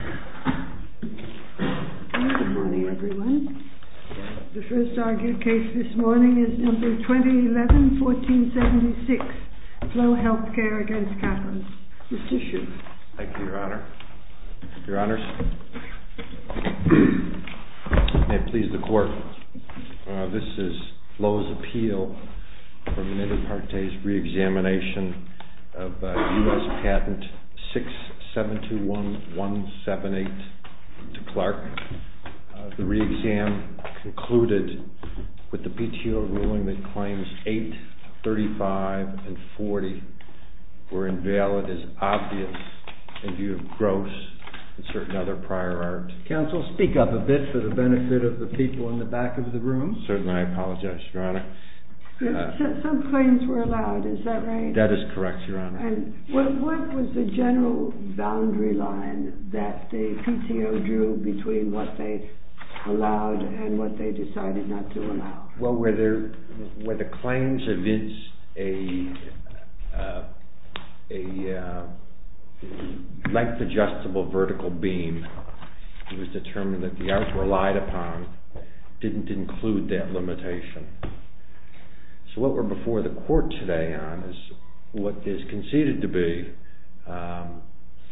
Mr. Schiff. Thank you, Your Honor. Your Honors, may it please the Court, this is FLO's appeal for Mendeparte's re-examination of U.S. Patent 6721178 to Clark. The re-exam concluded with the PTO ruling that claims 8, 35, and 40 were invalid as obvious in view of gross and certain other prior art. Counsel, speak up a bit for the benefit of the people in the back of the room. Certainly, I apologize, Your Honor. Some claims were allowed, is that right? That is correct, Your Honor. What was the general boundary line that the PTO drew between what they allowed and what they decided not to allow? Well, where the claims evinced a length-adjustable vertical beam, it was determined that the art relied upon didn't include that limitation. So what we're before the Court today on is what is conceded to be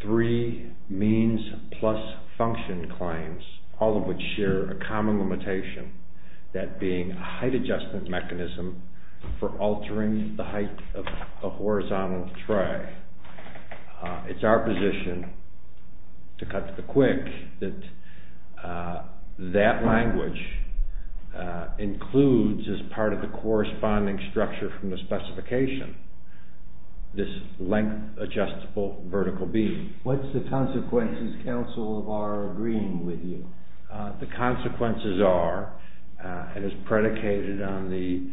three means-plus-function claims, all of which share a common limitation, that being height-adjustment mechanism for altering the height of a horizontal tray. It's our position, to cut to the quick, that that language includes, as part of the corresponding structure from the specification, this length-adjustable vertical beam. What's the consequences, Counsel, of our agreeing with you? The consequences are, and as predicated on the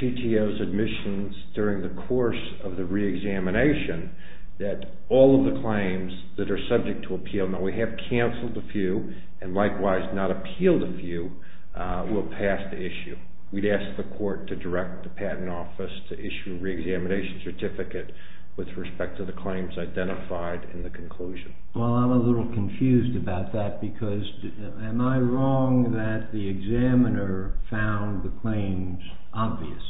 PTO's admissions during the course of the re-examination, that all of the claims that are subject to appeal, and that we have canceled a few and likewise not appealed a few, will pass the issue. We'd ask the Court to direct the Patent Office to issue a re-examination certificate with respect to the claims identified in the conclusion. Well, I'm a little confused about that, because am I wrong that the examiner found the claims obvious?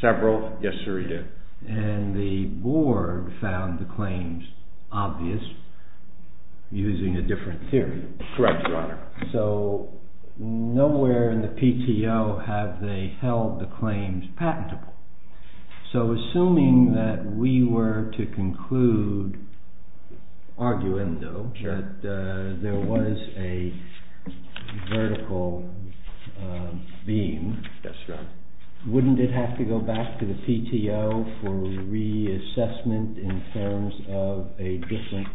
Several. Yes, sir, he did. And the board found the claims obvious, using a different theory? Correct, Your Honor. So, nowhere in the PTO have they held the claims patentable. So, assuming that we were to conclude, arguendo, that there was a vertical beam, wouldn't it have to go back to the PTO for re-assessment in terms of a different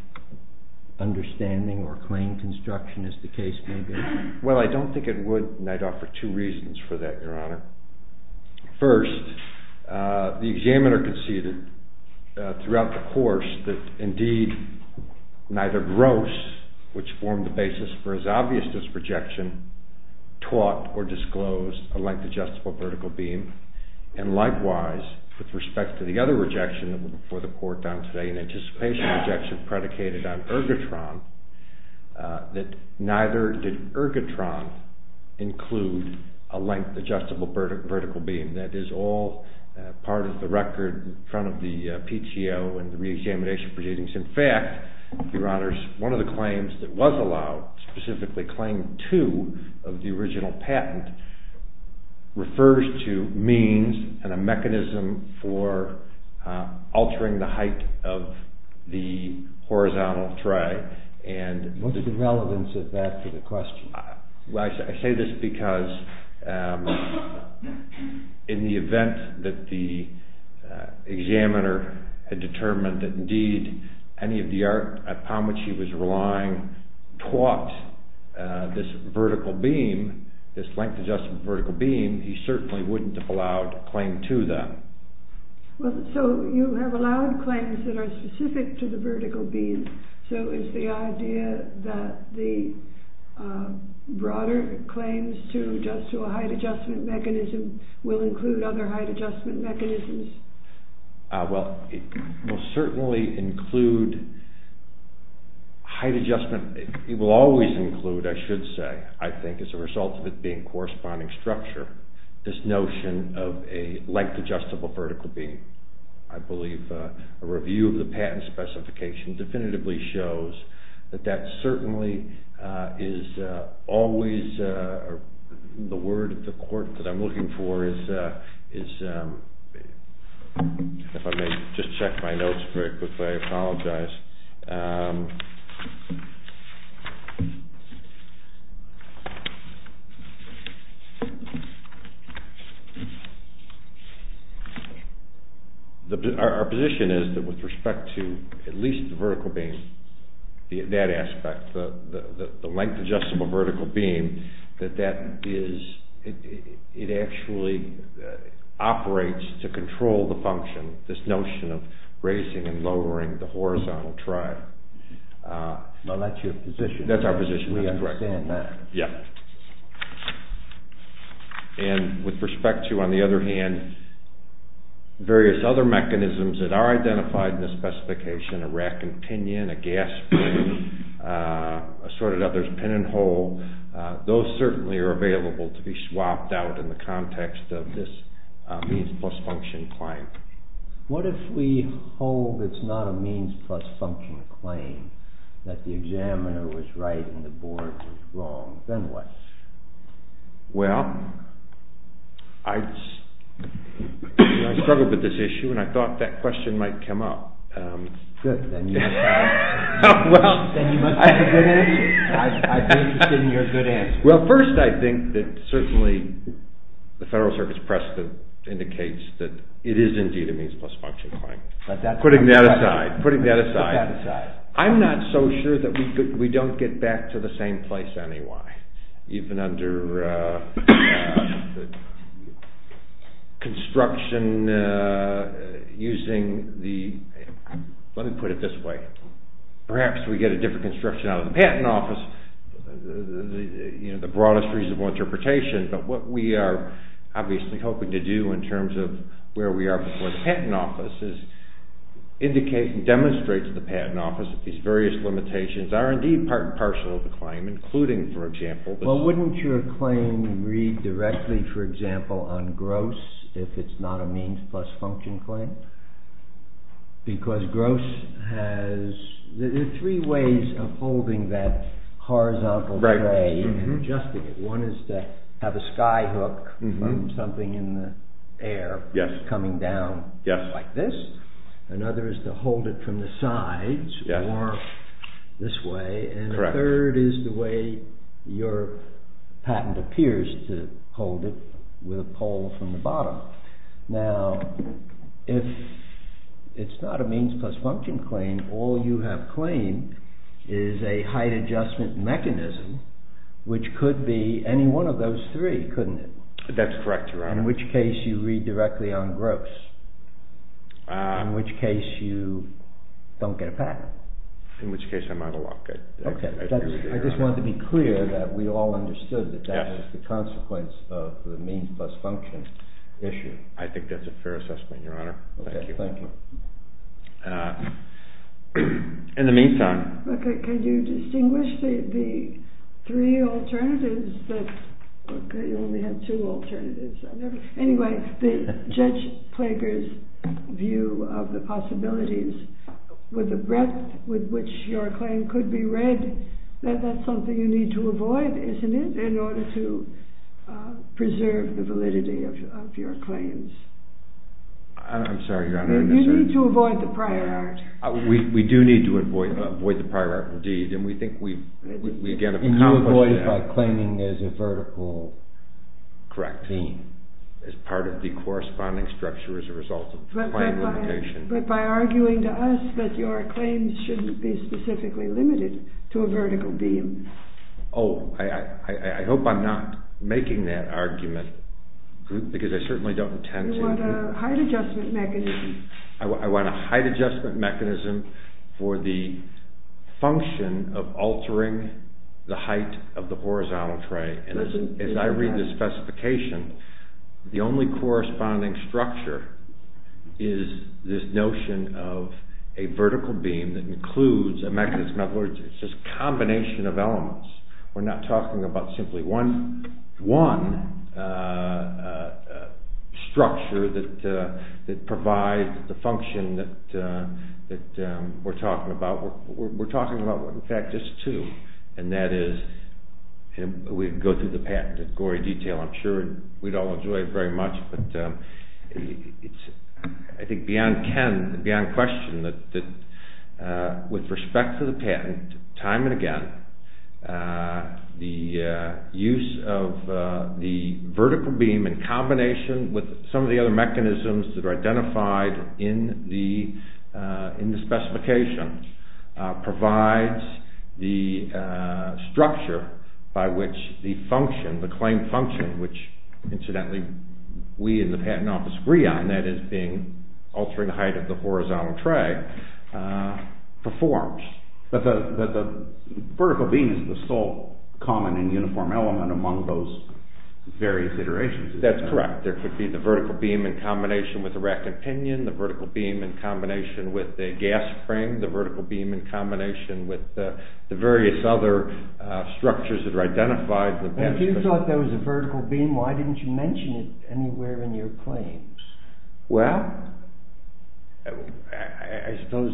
understanding or claim construction? Well, I don't think it would, and I'd offer two reasons for that, Your Honor. First, the examiner conceded throughout the course that, indeed, neither Gross, which formed the basis for his obvious disprojection, taught or disclosed a length-adjustable vertical beam. And likewise, with respect to the other rejection before the Court on today, an anticipation rejection predicated on Ergotron, that neither did Ergotron include a length-adjustable vertical beam. That is all part of the record in front of the PTO and the re-examination proceedings. In fact, Your Honors, one of the claims that was allowed, specifically Claim 2 of the original patent, refers to means and a mechanism for altering the height of the horizontal tray. What's the relevance of that to the question? Well, I say this because in the event that the examiner had determined that, indeed, any of the art upon which he was relying taught this vertical beam, this length-adjustable vertical beam, he certainly wouldn't have allowed Claim 2, then. So, you have allowed claims that are specific to the vertical beam, so is the idea that the broader claims to a height-adjustment mechanism will include other height-adjustment mechanisms? Well, it will certainly include height-adjustment. It will always include, I should say, I think as a result of it being corresponding structure, this notion of a length-adjustable vertical beam. I believe a review of the patent specification definitively shows that that certainly is always the word of the court that I'm looking for is, if I may just check my notes very quickly, I apologize. Our position is that with respect to at least the vertical beam, that aspect, the length-adjustable vertical beam, that that is, it actually operates to control the function, this notion of raising and lowering the horizontal tray. Well, that's your position. That's our position. We understand that. Yeah. And with respect to, on the other hand, various other mechanisms that are identified in the specification, a rack and pinion, a gas spring, assorted others, pin and hole, those certainly are available to be swapped out in the context of this means-plus-function claim. What if we hold it's not a means-plus-function claim, that the examiner was right and the board was wrong, then what? Well, I struggled with this issue and I thought that question might come up. Good, then you must have a good answer. I'm interested in your good answer. Well, first I think that certainly the Federal Circuit's precedent indicates that it is indeed a means-plus-function claim. Putting that aside. Putting that aside. I'm not so sure that we don't get back to the same place anyway, even under construction using the, let me put it this way, perhaps we get a different construction out of the patent office. You know, the broadest reasonable interpretation, but what we are obviously hoping to do in terms of where we are before the patent office is indicate and demonstrate to the patent office that these various limitations are indeed part and parcel of the claim, including, for example. Well, wouldn't your claim read directly, for example, on gross if it's not a means-plus-function claim? Because gross has, there are three ways of holding that horizontal tray and adjusting it. One is to have a sky hook from something in the air coming down like this. Another is to hold it from the sides or this way. And the third is the way your patent appears to hold it with a pole from the bottom. Now, if it's not a means-plus-function claim, all you have claimed is a height adjustment mechanism, which could be any one of those three, couldn't it? That's correct, Your Honor. In which case you read directly on gross. In which case you don't get a patent. In which case I'm out of luck. I just wanted to be clear that we all understood that that was the consequence of the means-plus-function issue. I think that's a fair assessment, Your Honor. Thank you. In the meantime. Can you distinguish the three alternatives? You only have two alternatives. Anyway, the judge-plaguer's view of the possibilities with the breadth with which your claim could be read, that's something you need to avoid, isn't it? In order to preserve the validity of your claims. I'm sorry, Your Honor. You need to avoid the prior art. We do need to avoid the prior art indeed, and we think we again have accomplished that. And you avoid it by claiming as a vertical beam. Correct. As part of the corresponding structure as a result of the claim limitation. But by arguing to us that your claims shouldn't be specifically limited to a vertical beam. Oh, I hope I'm not making that argument, because I certainly don't intend to. You want a height adjustment mechanism. I want a height adjustment mechanism for the function of altering the height of the horizontal tray. And as I read this specification, the only corresponding structure is this notion of a vertical beam that includes a mechanism. In other words, it's just a combination of elements. We're not talking about simply one structure that provides the function that we're talking about. We're talking about, in fact, just two. And that is, we go through the patent in gory detail. I'm sure we'd all enjoy it very much. I think beyond Ken, beyond question, that with respect to the patent, time and again, the use of the vertical beam in combination with some of the other mechanisms that are identified in the specification provides the structure by which the function, the claim function, which, incidentally, we in the patent office agree on, that is, altering the height of the horizontal tray, performs. But the vertical beam is the sole common and uniform element among those various iterations. That's correct. There could be the vertical beam in combination with the rack and pinion, the vertical beam in combination with the gas frame, the vertical beam in combination with the various other structures that are identified. If you thought there was a vertical beam, why didn't you mention it anywhere in your claim? Well, I suppose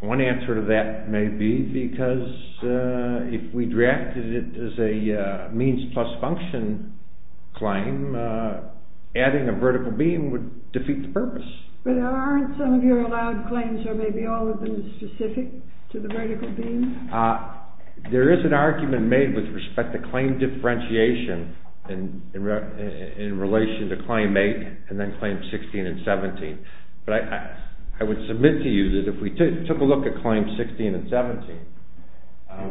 one answer to that may be because if we drafted it as a means plus function claim, adding a vertical beam would defeat the purpose. But aren't some of your allowed claims, or maybe all of them, specific to the vertical beam? There is an argument made with respect to claim differentiation in relation to Claim 8 and then Claim 16 and 17. But I would submit to you that if we took a look at Claim 16 and 17,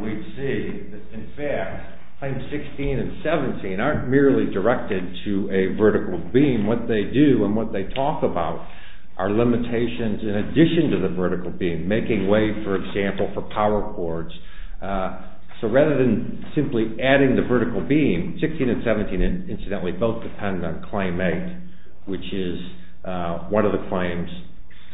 we'd see that, in fact, Claim 16 and 17 aren't merely directed to a vertical beam. What they do and what they talk about are limitations in addition to the vertical beam, making way, for example, for power cords. So rather than simply adding the vertical beam, 16 and 17, incidentally, both depend on Claim 8, which is one of the claims.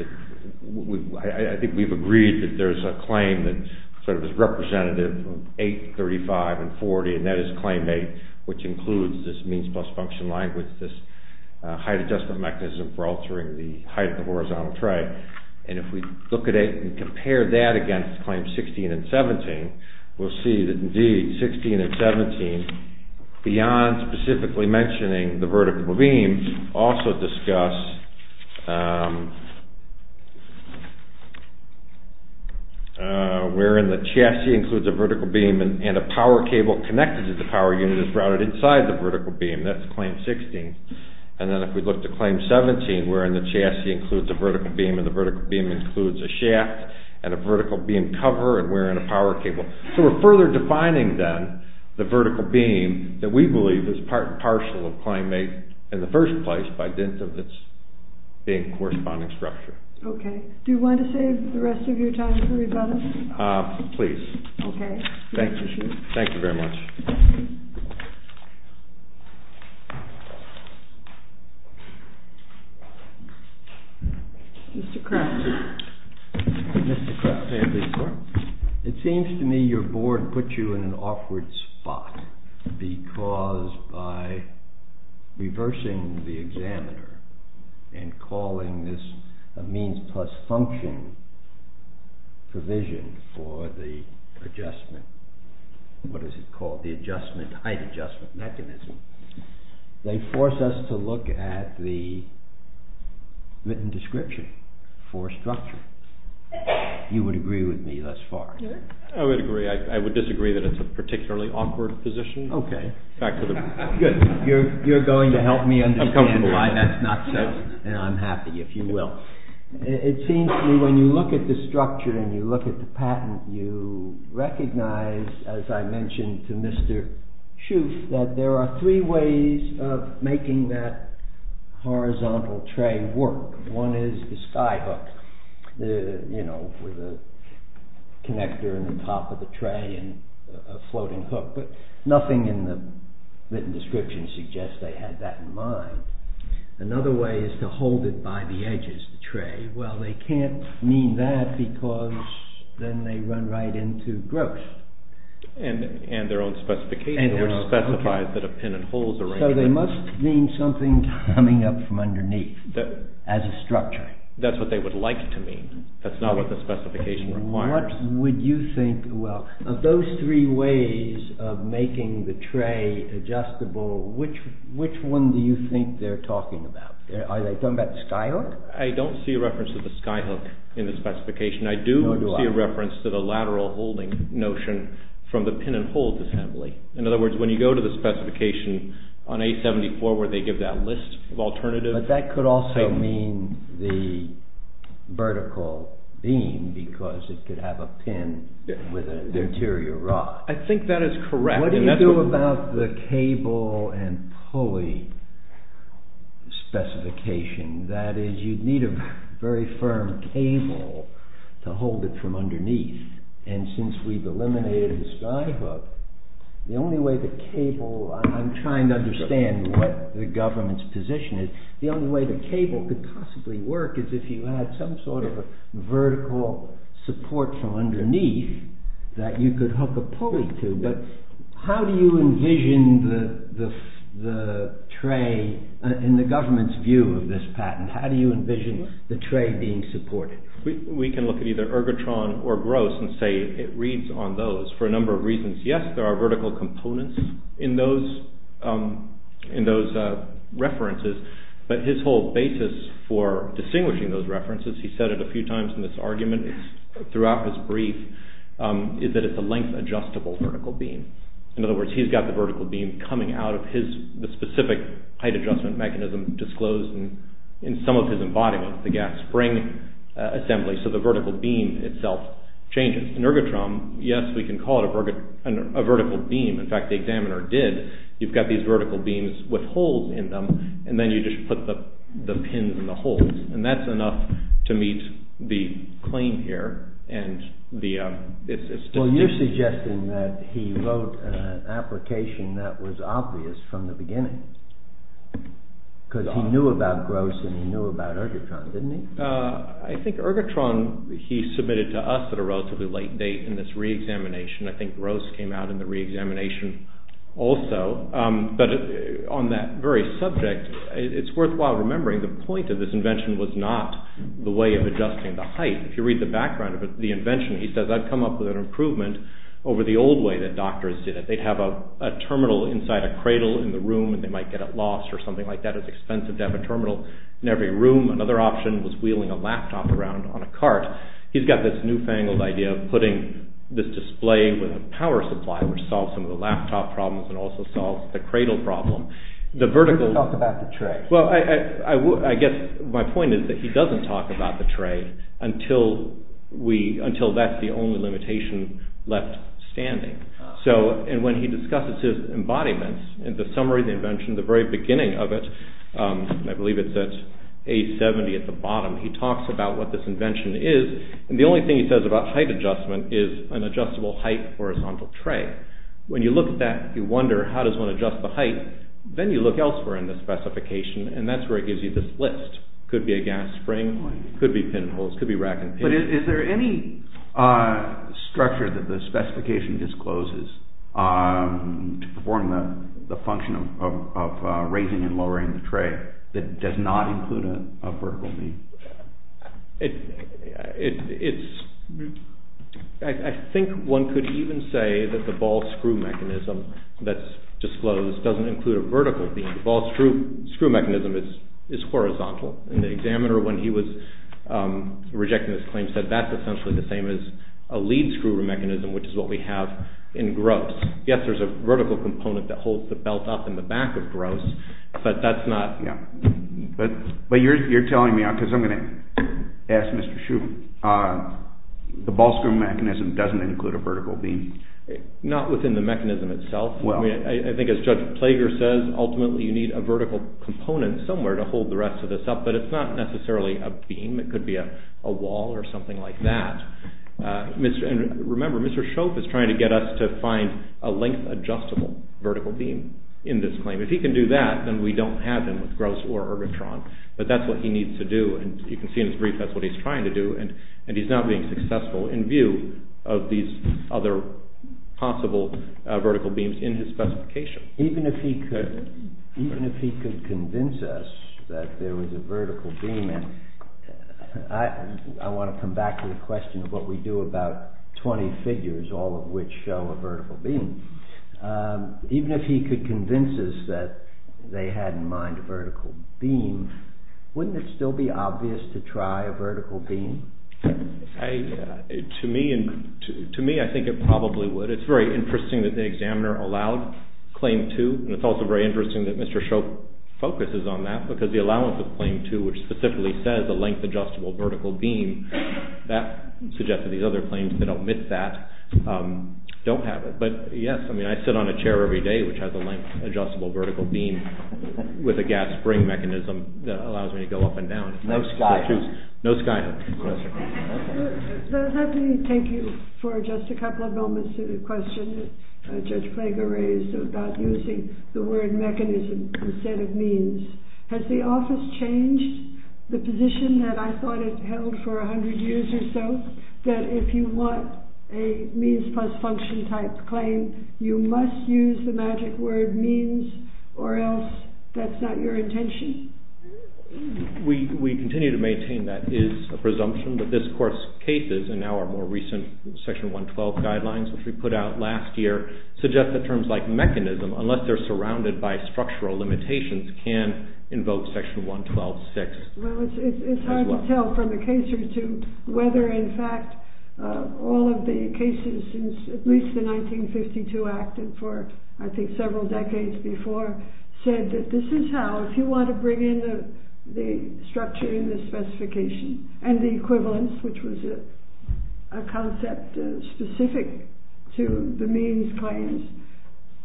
I think we've agreed that there's a claim that sort of is representative of 8, 35, and 40, and that is Claim 8, which includes this means plus function language, this height adjustment mechanism for altering the height of the horizontal tray. And if we look at it and compare that against Claim 16 and 17, we'll see that, indeed, 16 and 17, beyond specifically mentioning the vertical beam, also discuss wherein the chassis includes a vertical beam and a power cable connected to the power unit is routed inside the vertical beam. That's Claim 16. And then if we look to Claim 17, wherein the chassis includes a vertical beam and the vertical beam includes a shaft and a vertical beam cover and wherein a power cable. So we're further defining, then, the vertical beam that we believe is part and parcel of Claim 8 in the first place by dint of its big corresponding structure. Okay. Do you want to save the rest of your time for rebuttal? Please. Okay. Thank you. Thank you very much. Mr. Kraft. Mr. Kraft, may I please start? It seems to me your board put you in an awkward spot because by reversing the examiner and calling this a means plus function provision for the adjustment, what is it called, the height adjustment mechanism, they force us to look at the written description for structure. You would agree with me thus far? I would agree. I would disagree that it's a particularly awkward position. Okay. Good. You're going to help me understand why that's not so, and I'm happy if you will. It seems to me when you look at the structure and you look at the patent, you recognize, as I mentioned to Mr. Schuth, that there are three ways of making that horizontal tray work. One is the sky hook, you know, with a connector in the top of the tray and a floating hook, but nothing in the written description suggests they had that in mind. Another way is to hold it by the edges, the tray. Well, they can't mean that because then they run right into gross. And their own specification, which specifies that a pin and hole is arranged. So they must mean something coming up from underneath as a structure. That's what they would like to mean. That's not what the specification requires. What would you think, well, of those three ways of making the tray adjustable, which one do you think they're talking about? Are they talking about the sky hook? I don't see a reference to the sky hook in the specification. I do see a reference to the lateral holding notion from the pin and hole assembly. In other words, when you go to the specification on A74 where they give that list of alternative… But that could also mean the vertical beam because it could have a pin with an interior rod. I think that is correct. What do you do about the cable and pulley specification? That is, you need a very firm cable to hold it from underneath. And since we've eliminated the sky hook, the only way the cable… I'm trying to understand what the government's position is. The only way the cable could possibly work is if you had some sort of a vertical support from underneath that you could hook a pulley to. How do you envision the tray in the government's view of this patent? How do you envision the tray being supported? We can look at either Ergotron or Gross and say it reads on those for a number of reasons. Yes, there are vertical components in those references, but his whole basis for distinguishing those references, he said it a few times in this argument throughout this brief, is that it's a length-adjustable vertical beam. In other words, he's got the vertical beam coming out of his specific height-adjustment mechanism disclosed in some of his embodiments, the gas spring assembly, so the vertical beam itself changes. In Ergotron, yes, we can call it a vertical beam. In fact, the examiner did. You've got these vertical beams with holes in them, and then you just put the pins in the holes. That's enough to meet the claim here. You're suggesting that he wrote an application that was obvious from the beginning because he knew about Gross and he knew about Ergotron, didn't he? I think Ergotron he submitted to us at a relatively late date in this re-examination. I think Gross came out in the re-examination also. But on that very subject, it's worthwhile remembering the point of this invention was not the way of adjusting the height. If you read the background of the invention, he says, I've come up with an improvement over the old way that doctors did it. They'd have a terminal inside a cradle in the room, and they might get it lost or something like that. It's expensive to have a terminal in every room. Another option was wheeling a laptop around on a cart. He's got this newfangled idea of putting this display with a power supply, which solves some of the laptop problems and also solves the cradle problem. He doesn't talk about the tray. I guess my point is that he doesn't talk about the tray until that's the only limitation left standing. When he discusses his embodiments and the summary of the invention, the very beginning of it, I believe it's at A70 at the bottom, he talks about what this invention is, and the only thing he says about height adjustment is an adjustable height horizontal tray. When you look at that, you wonder, how does one adjust the height? Then you look elsewhere in the specification, and that's where it gives you this list. It could be a gas spring, it could be pinholes, it could be rack and pins. Is there any structure that the specification discloses to perform the function of raising and lowering the tray that does not include a vertical beam? I think one could even say that the ball screw mechanism that's disclosed doesn't include a vertical beam. The ball screw mechanism is horizontal, and the examiner, when he was rejecting this claim, said that's essentially the same as a lead screw mechanism, which is what we have in GROS. Yes, there's a vertical component that holds the belt up in the back of GROS, but that's not... But you're telling me, because I'm going to ask Mr. Shoup, the ball screw mechanism doesn't include a vertical beam. Not within the mechanism itself. I think as Judge Plager says, ultimately you need a vertical component somewhere to hold the rest of this up, but it's not necessarily a beam. It could be a wall or something like that. Remember, Mr. Shoup is trying to get us to find a length-adjustable vertical beam in this claim. If he can do that, then we don't have them with GROS or Ergotron. But that's what he needs to do, and you can see in his brief that's what he's trying to do, and he's not being successful in view of these other possible vertical beams in his specification. Even if he could convince us that there was a vertical beam... I want to come back to the question of what we do about 20 figures, all of which show a vertical beam. Even if he could convince us that they had in mind a vertical beam, wouldn't it still be obvious to try a vertical beam? To me, I think it probably would. It's very interesting that the examiner allowed Claim 2, and it's also very interesting that Mr. Shoup focuses on that because the allowance of Claim 2, which specifically says a length-adjustable vertical beam, that suggests that these other claims that omit that don't have it. But yes, I sit on a chair every day which has a length-adjustable vertical beam with a gas spring mechanism that allows me to go up and down. No skyhook. No skyhook. I'd like to thank you for just a couple of moments to the question that Judge Klager raised about using the word mechanism instead of means. Has the office changed the position that I thought it held for 100 years or so, that if you want a means-plus-function type claim, you must use the magic word means or else that's not your intention? We continue to maintain that is a presumption, but this, of course, cases in our more recent Section 112 guidelines, which we put out last year, suggest that terms like mechanism, unless they're surrounded by structural limitations, can invoke Section 112.6. Well, it's hard to tell from a case or two whether, in fact, all of the cases since at least the 1952 Act and for, I think, several decades before, said that this is how, if you want to bring in the structure in the specification and the equivalence, which was a concept specific to the means claims,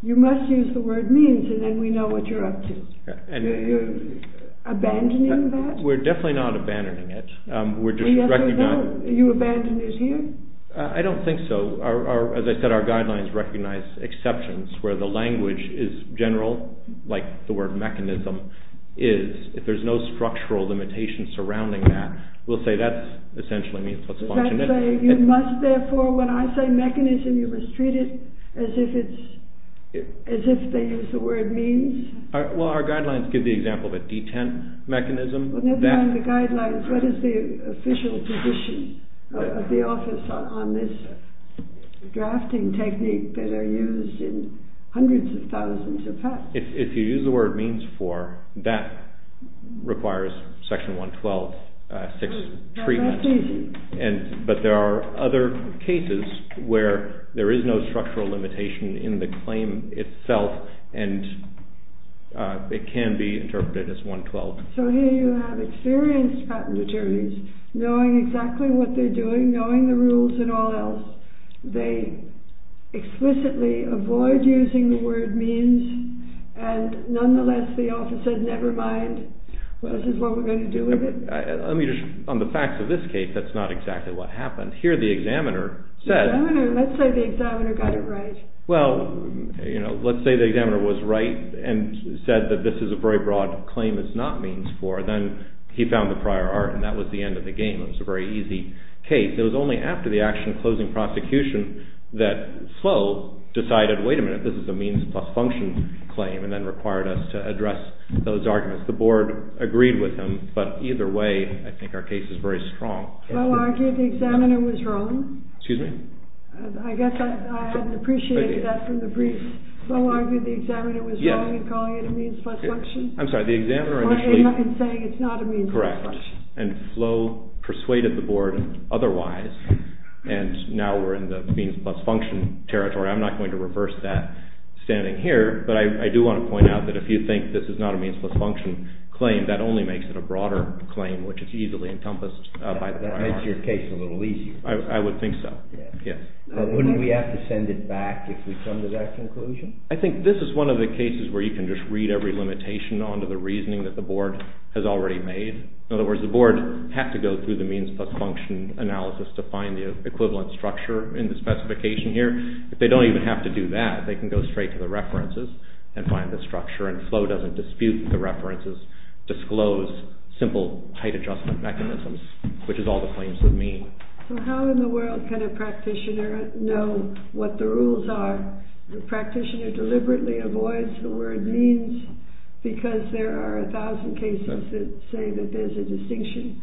you must use the word means and then we know what you're up to. You're abandoning that? We're definitely not abandoning it. You abandon it here? I don't think so. As I said, our guidelines recognize exceptions where the language is general, like the word mechanism is. If there's no structural limitation surrounding that, we'll say that's essentially means-plus-function. You must, therefore, when I say mechanism, you must treat it as if they use the word means? Well, our guidelines give the example of a detent mechanism. Never mind the guidelines. What is the official position of the office on this drafting technique that are used in hundreds of thousands of patents? If you use the word means-for, that requires Section 112.6 treatment. That's easy. But there are other cases where there is no structural limitation in the claim itself and it can be interpreted as 112. So here you have experienced patent attorneys knowing exactly what they're doing, knowing the rules and all else. They explicitly avoid using the word means, and nonetheless the office says, never mind, this is what we're going to do with it? On the facts of this case, that's not exactly what happened. Here the examiner says... Let's say the examiner got it right. Well, let's say the examiner was right and said that this is a very broad claim that's not means-for, then he found the prior art and that was the end of the game. It was a very easy case. It was only after the action closing prosecution that Flo decided, wait a minute, this is a means-plus-function claim, and then required us to address those arguments. The board agreed with him, but either way, I think our case is very strong. Flo argued the examiner was wrong. Excuse me? I guess I hadn't appreciated that from the brief. Flo argued the examiner was wrong in calling it a means-plus-function? I'm sorry, the examiner initially... In saying it's not a means-plus-function. Correct, and Flo persuaded the board otherwise, and now we're in the means-plus-function territory. I'm not going to reverse that standing here, but I do want to point out that if you think this is not a means-plus-function claim, that only makes it a broader claim, which is easily encompassed by the prior art. That makes your case a little easier. I would think so, yes. Wouldn't we have to send it back if we come to that conclusion? I think this is one of the cases where you can just read every limitation onto the reasoning that the board has already made. In other words, the board had to go through the means-plus-function analysis to find the equivalent structure in the specification here. If they don't even have to do that, they can go straight to the references and find the structure, and Flo doesn't dispute the references, disclose simple height-adjustment mechanisms, which is all the claims would mean. How in the world can a practitioner know what the rules are? The practitioner deliberately avoids the word means because there are a thousand cases that say that there's a distinction.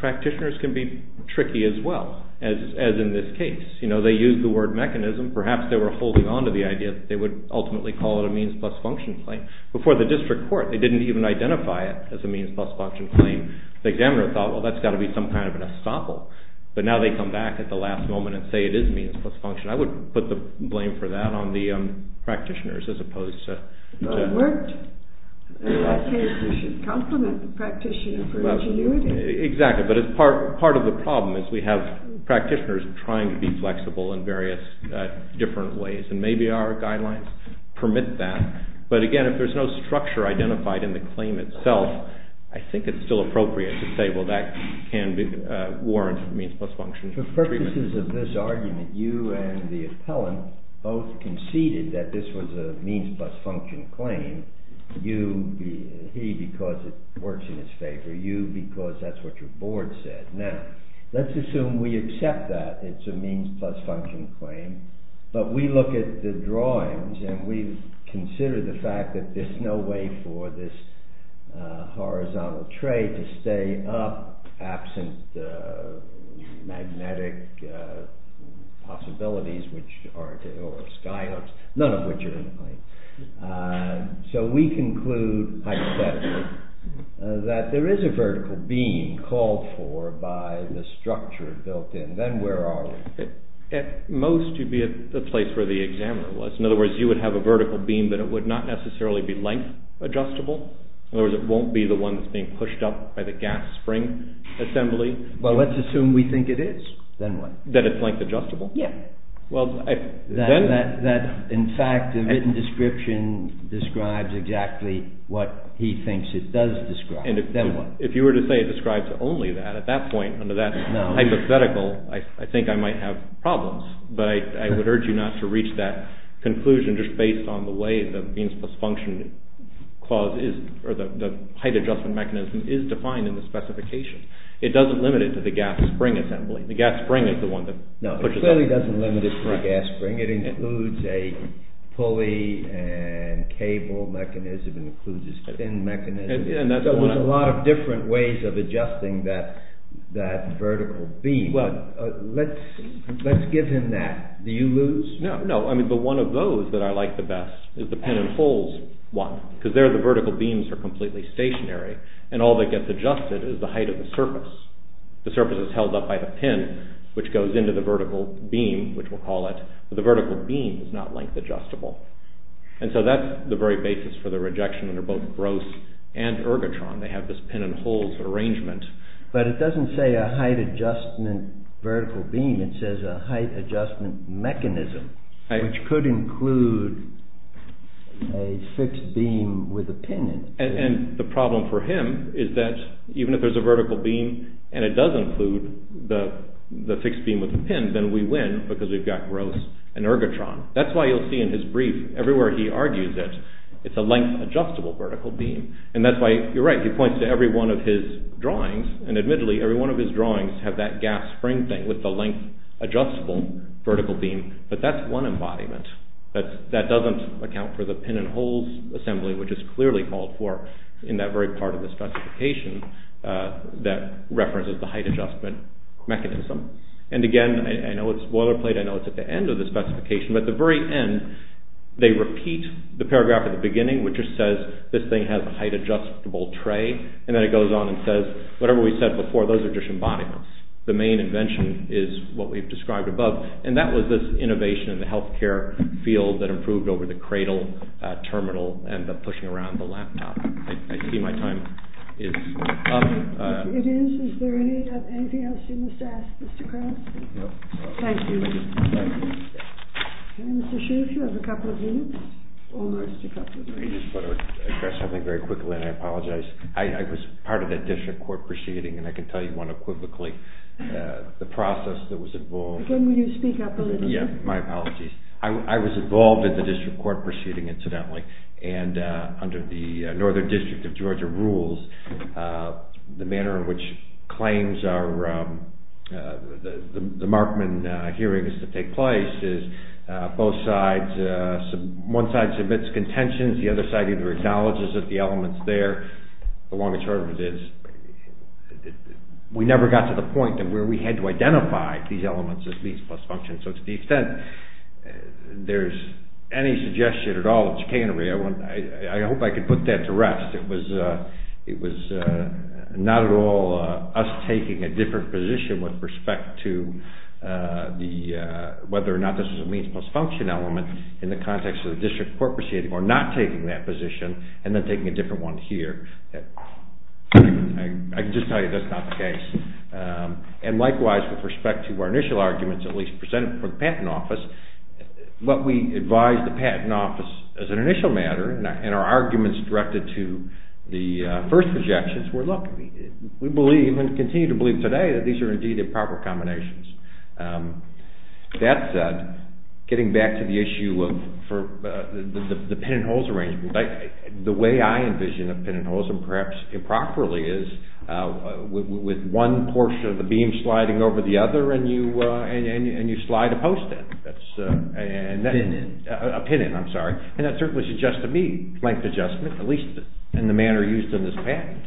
Practitioners can be tricky as well, as in this case. They used the word mechanism. Perhaps they were holding on to the idea that they would ultimately call it a means-plus-function claim. Before the district court, they didn't even identify it as a means-plus-function claim. The examiner thought, well, that's got to be some kind of an estoppel. But now they come back at the last moment and say it is means-plus-function. I would put the blame for that on the practitioners as opposed to... It worked. In that case, we should compliment the practitioner for ingenuity. Exactly, but part of the problem is we have practitioners trying to be flexible in various different ways, and maybe our guidelines permit that. But again, if there's no structure identified in the claim itself, I think it's still appropriate to say, well, that can warrant means-plus-function. For purposes of this argument, you and the appellant both conceded that this was a means-plus-function claim. You, he, because it works in his favor. You, because that's what your board said. Now, let's assume we accept that it's a means-plus-function claim, but we look at the drawings and we consider the fact that there's no way for this horizontal tray to stay up absent magnetic possibilities, or sky hoops, none of which are in the claim. So we conclude hypothetically that there is a vertical beam called for by the structure built in. Then where are we? At most, you'd be at the place where the examiner was. In other words, you would have a vertical beam, but it would not necessarily be length-adjustable. In other words, it won't be the one that's being pushed up by the gas spring assembly. Well, let's assume we think it is. Then what? That it's length-adjustable? Yeah. In fact, the written description describes exactly what he thinks it does describe. Then what? If you were to say it describes only that, at that point, under that hypothetical, I think I might have problems. But I would urge you not to reach that conclusion just based on the way the beams plus function clause is, or the height-adjustment mechanism, is defined in the specification. It doesn't limit it to the gas spring assembly. The gas spring is the one that pushes up. No, it clearly doesn't limit it to the gas spring. It includes a pulley and cable mechanism. It includes a spin mechanism. There's a lot of different ways of adjusting that vertical beam. Well, let's give him that. Do you lose? No, but one of those that I like the best is the pin-and-holes one, because there the vertical beams are completely stationary, and all that gets adjusted is the height of the surface. The surface is held up by the pin, which goes into the vertical beam, which we'll call it, but the vertical beam is not length-adjustable. And so that's the very basis for the rejection under both Gross and Ergotron. They have this pin-and-holes arrangement. But it doesn't say a height-adjustment vertical beam. It says a height-adjustment mechanism, which could include a fixed beam with a pin in it. And the problem for him is that even if there's a vertical beam and it does include the fixed beam with the pin, then we win because we've got Gross and Ergotron. That's why you'll see in his brief, everywhere he argues it, it's a length-adjustable vertical beam. And that's why, you're right, he points to every one of his drawings, and admittedly, every one of his drawings have that gas spring thing with the length-adjustable vertical beam, but that's one embodiment. That doesn't account for the pin-and-holes assembly, which is clearly called for in that very part of the specification that references the height-adjustment mechanism. And again, I know it's boilerplate, I know it's at the end of the specification, but at the very end, they repeat the paragraph at the beginning which just says, this thing has a height-adjustable tray, and then it goes on and says, whatever we said before, those are just embodiments. The main invention is what we've described above, and that was this innovation in the healthcare field that improved over the cradle, terminal, and the pushing around the laptop. I see my time is up. It is. Is there anything else you must ask, Mr. Kraus? No. Thank you. Okay, Mr. Schiff, you have a couple of minutes. Almost a couple of minutes. I just want to address something very quickly, and I apologize. I was part of that district court proceeding, and I can tell you unequivocally the process that was involved. Again, will you speak up a little bit? Yeah, my apologies. I was involved in the district court proceeding, incidentally, and under the Northern District of Georgia rules, the manner in which claims are— the Markman hearings that take place is both sides—one side submits contentions, the other side either acknowledges that the element's there. The long and short of it is we never got to the point where we had to identify these elements as means plus function. So to the extent there's any suggestion at all of chicanery, I hope I can put that to rest. It was not at all us taking a different position with respect to whether or not this was a means plus function element in the context of the district court proceeding, or not taking that position, and then taking a different one here. I can just tell you that's not the case. And likewise, with respect to our initial arguments, at least presented for the Patent Office, what we advised the Patent Office as an initial matter, and our arguments directed to the first objections were, look, we believe and continue to believe today that these are indeed improper combinations. That said, getting back to the issue of the pin-in-holes arrangement, the way I envision a pin-in-holes, and perhaps improperly, is with one portion of the beam sliding over the other, and you slide a post in. A pin-in. A pin-in, I'm sorry. And that certainly suggests to me length adjustment, at least in the manner used in this patent.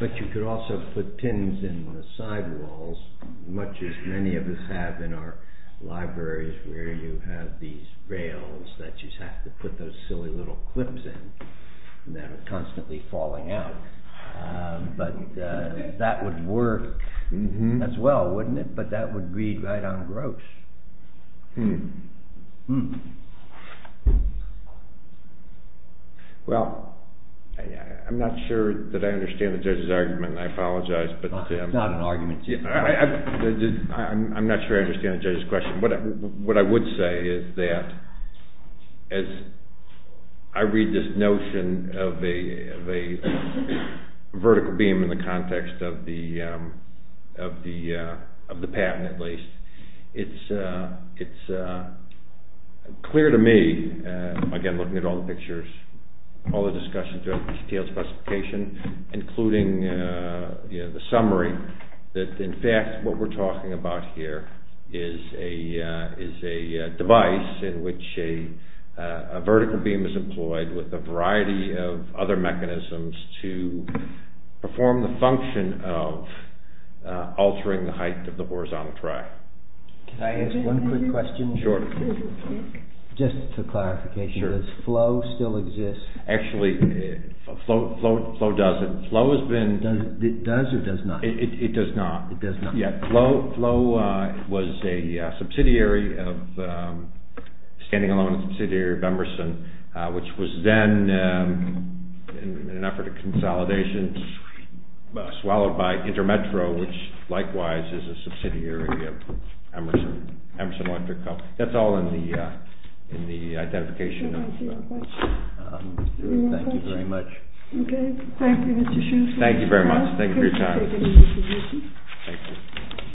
But you could also put pins in the side walls, much as many of us have in our libraries, where you have these rails that you have to put those silly little clips in that are constantly falling out. But that would work as well, wouldn't it? But that would read right on gross. Well, I'm not sure that I understand the judge's argument, and I apologize. It's not an argument. I'm not sure I understand the judge's question. What I would say is that, as I read this notion of a vertical beam in the context of the patent, at least, it's clear to me, again, looking at all the pictures, all the discussions around the CTL specification, including the summary, that in fact what we're talking about here is a device in which a vertical beam is employed with a variety of other mechanisms to perform the function of altering the height of the horizontal track. Can I ask one quick question? Sure. Just for clarification, does FLOW still exist? Actually, FLOW does. It does or does not? It does not. It does not. FLOW was a subsidiary of, standing alone a subsidiary of Emerson, which was then, in an effort of consolidation, swallowed by Intermetro, which likewise is a subsidiary of Emerson Electric Co. That's all in the identification. Thank you very much. Thank you, Mr. Schultz. Thank you very much. Thank you for your time. Thank you.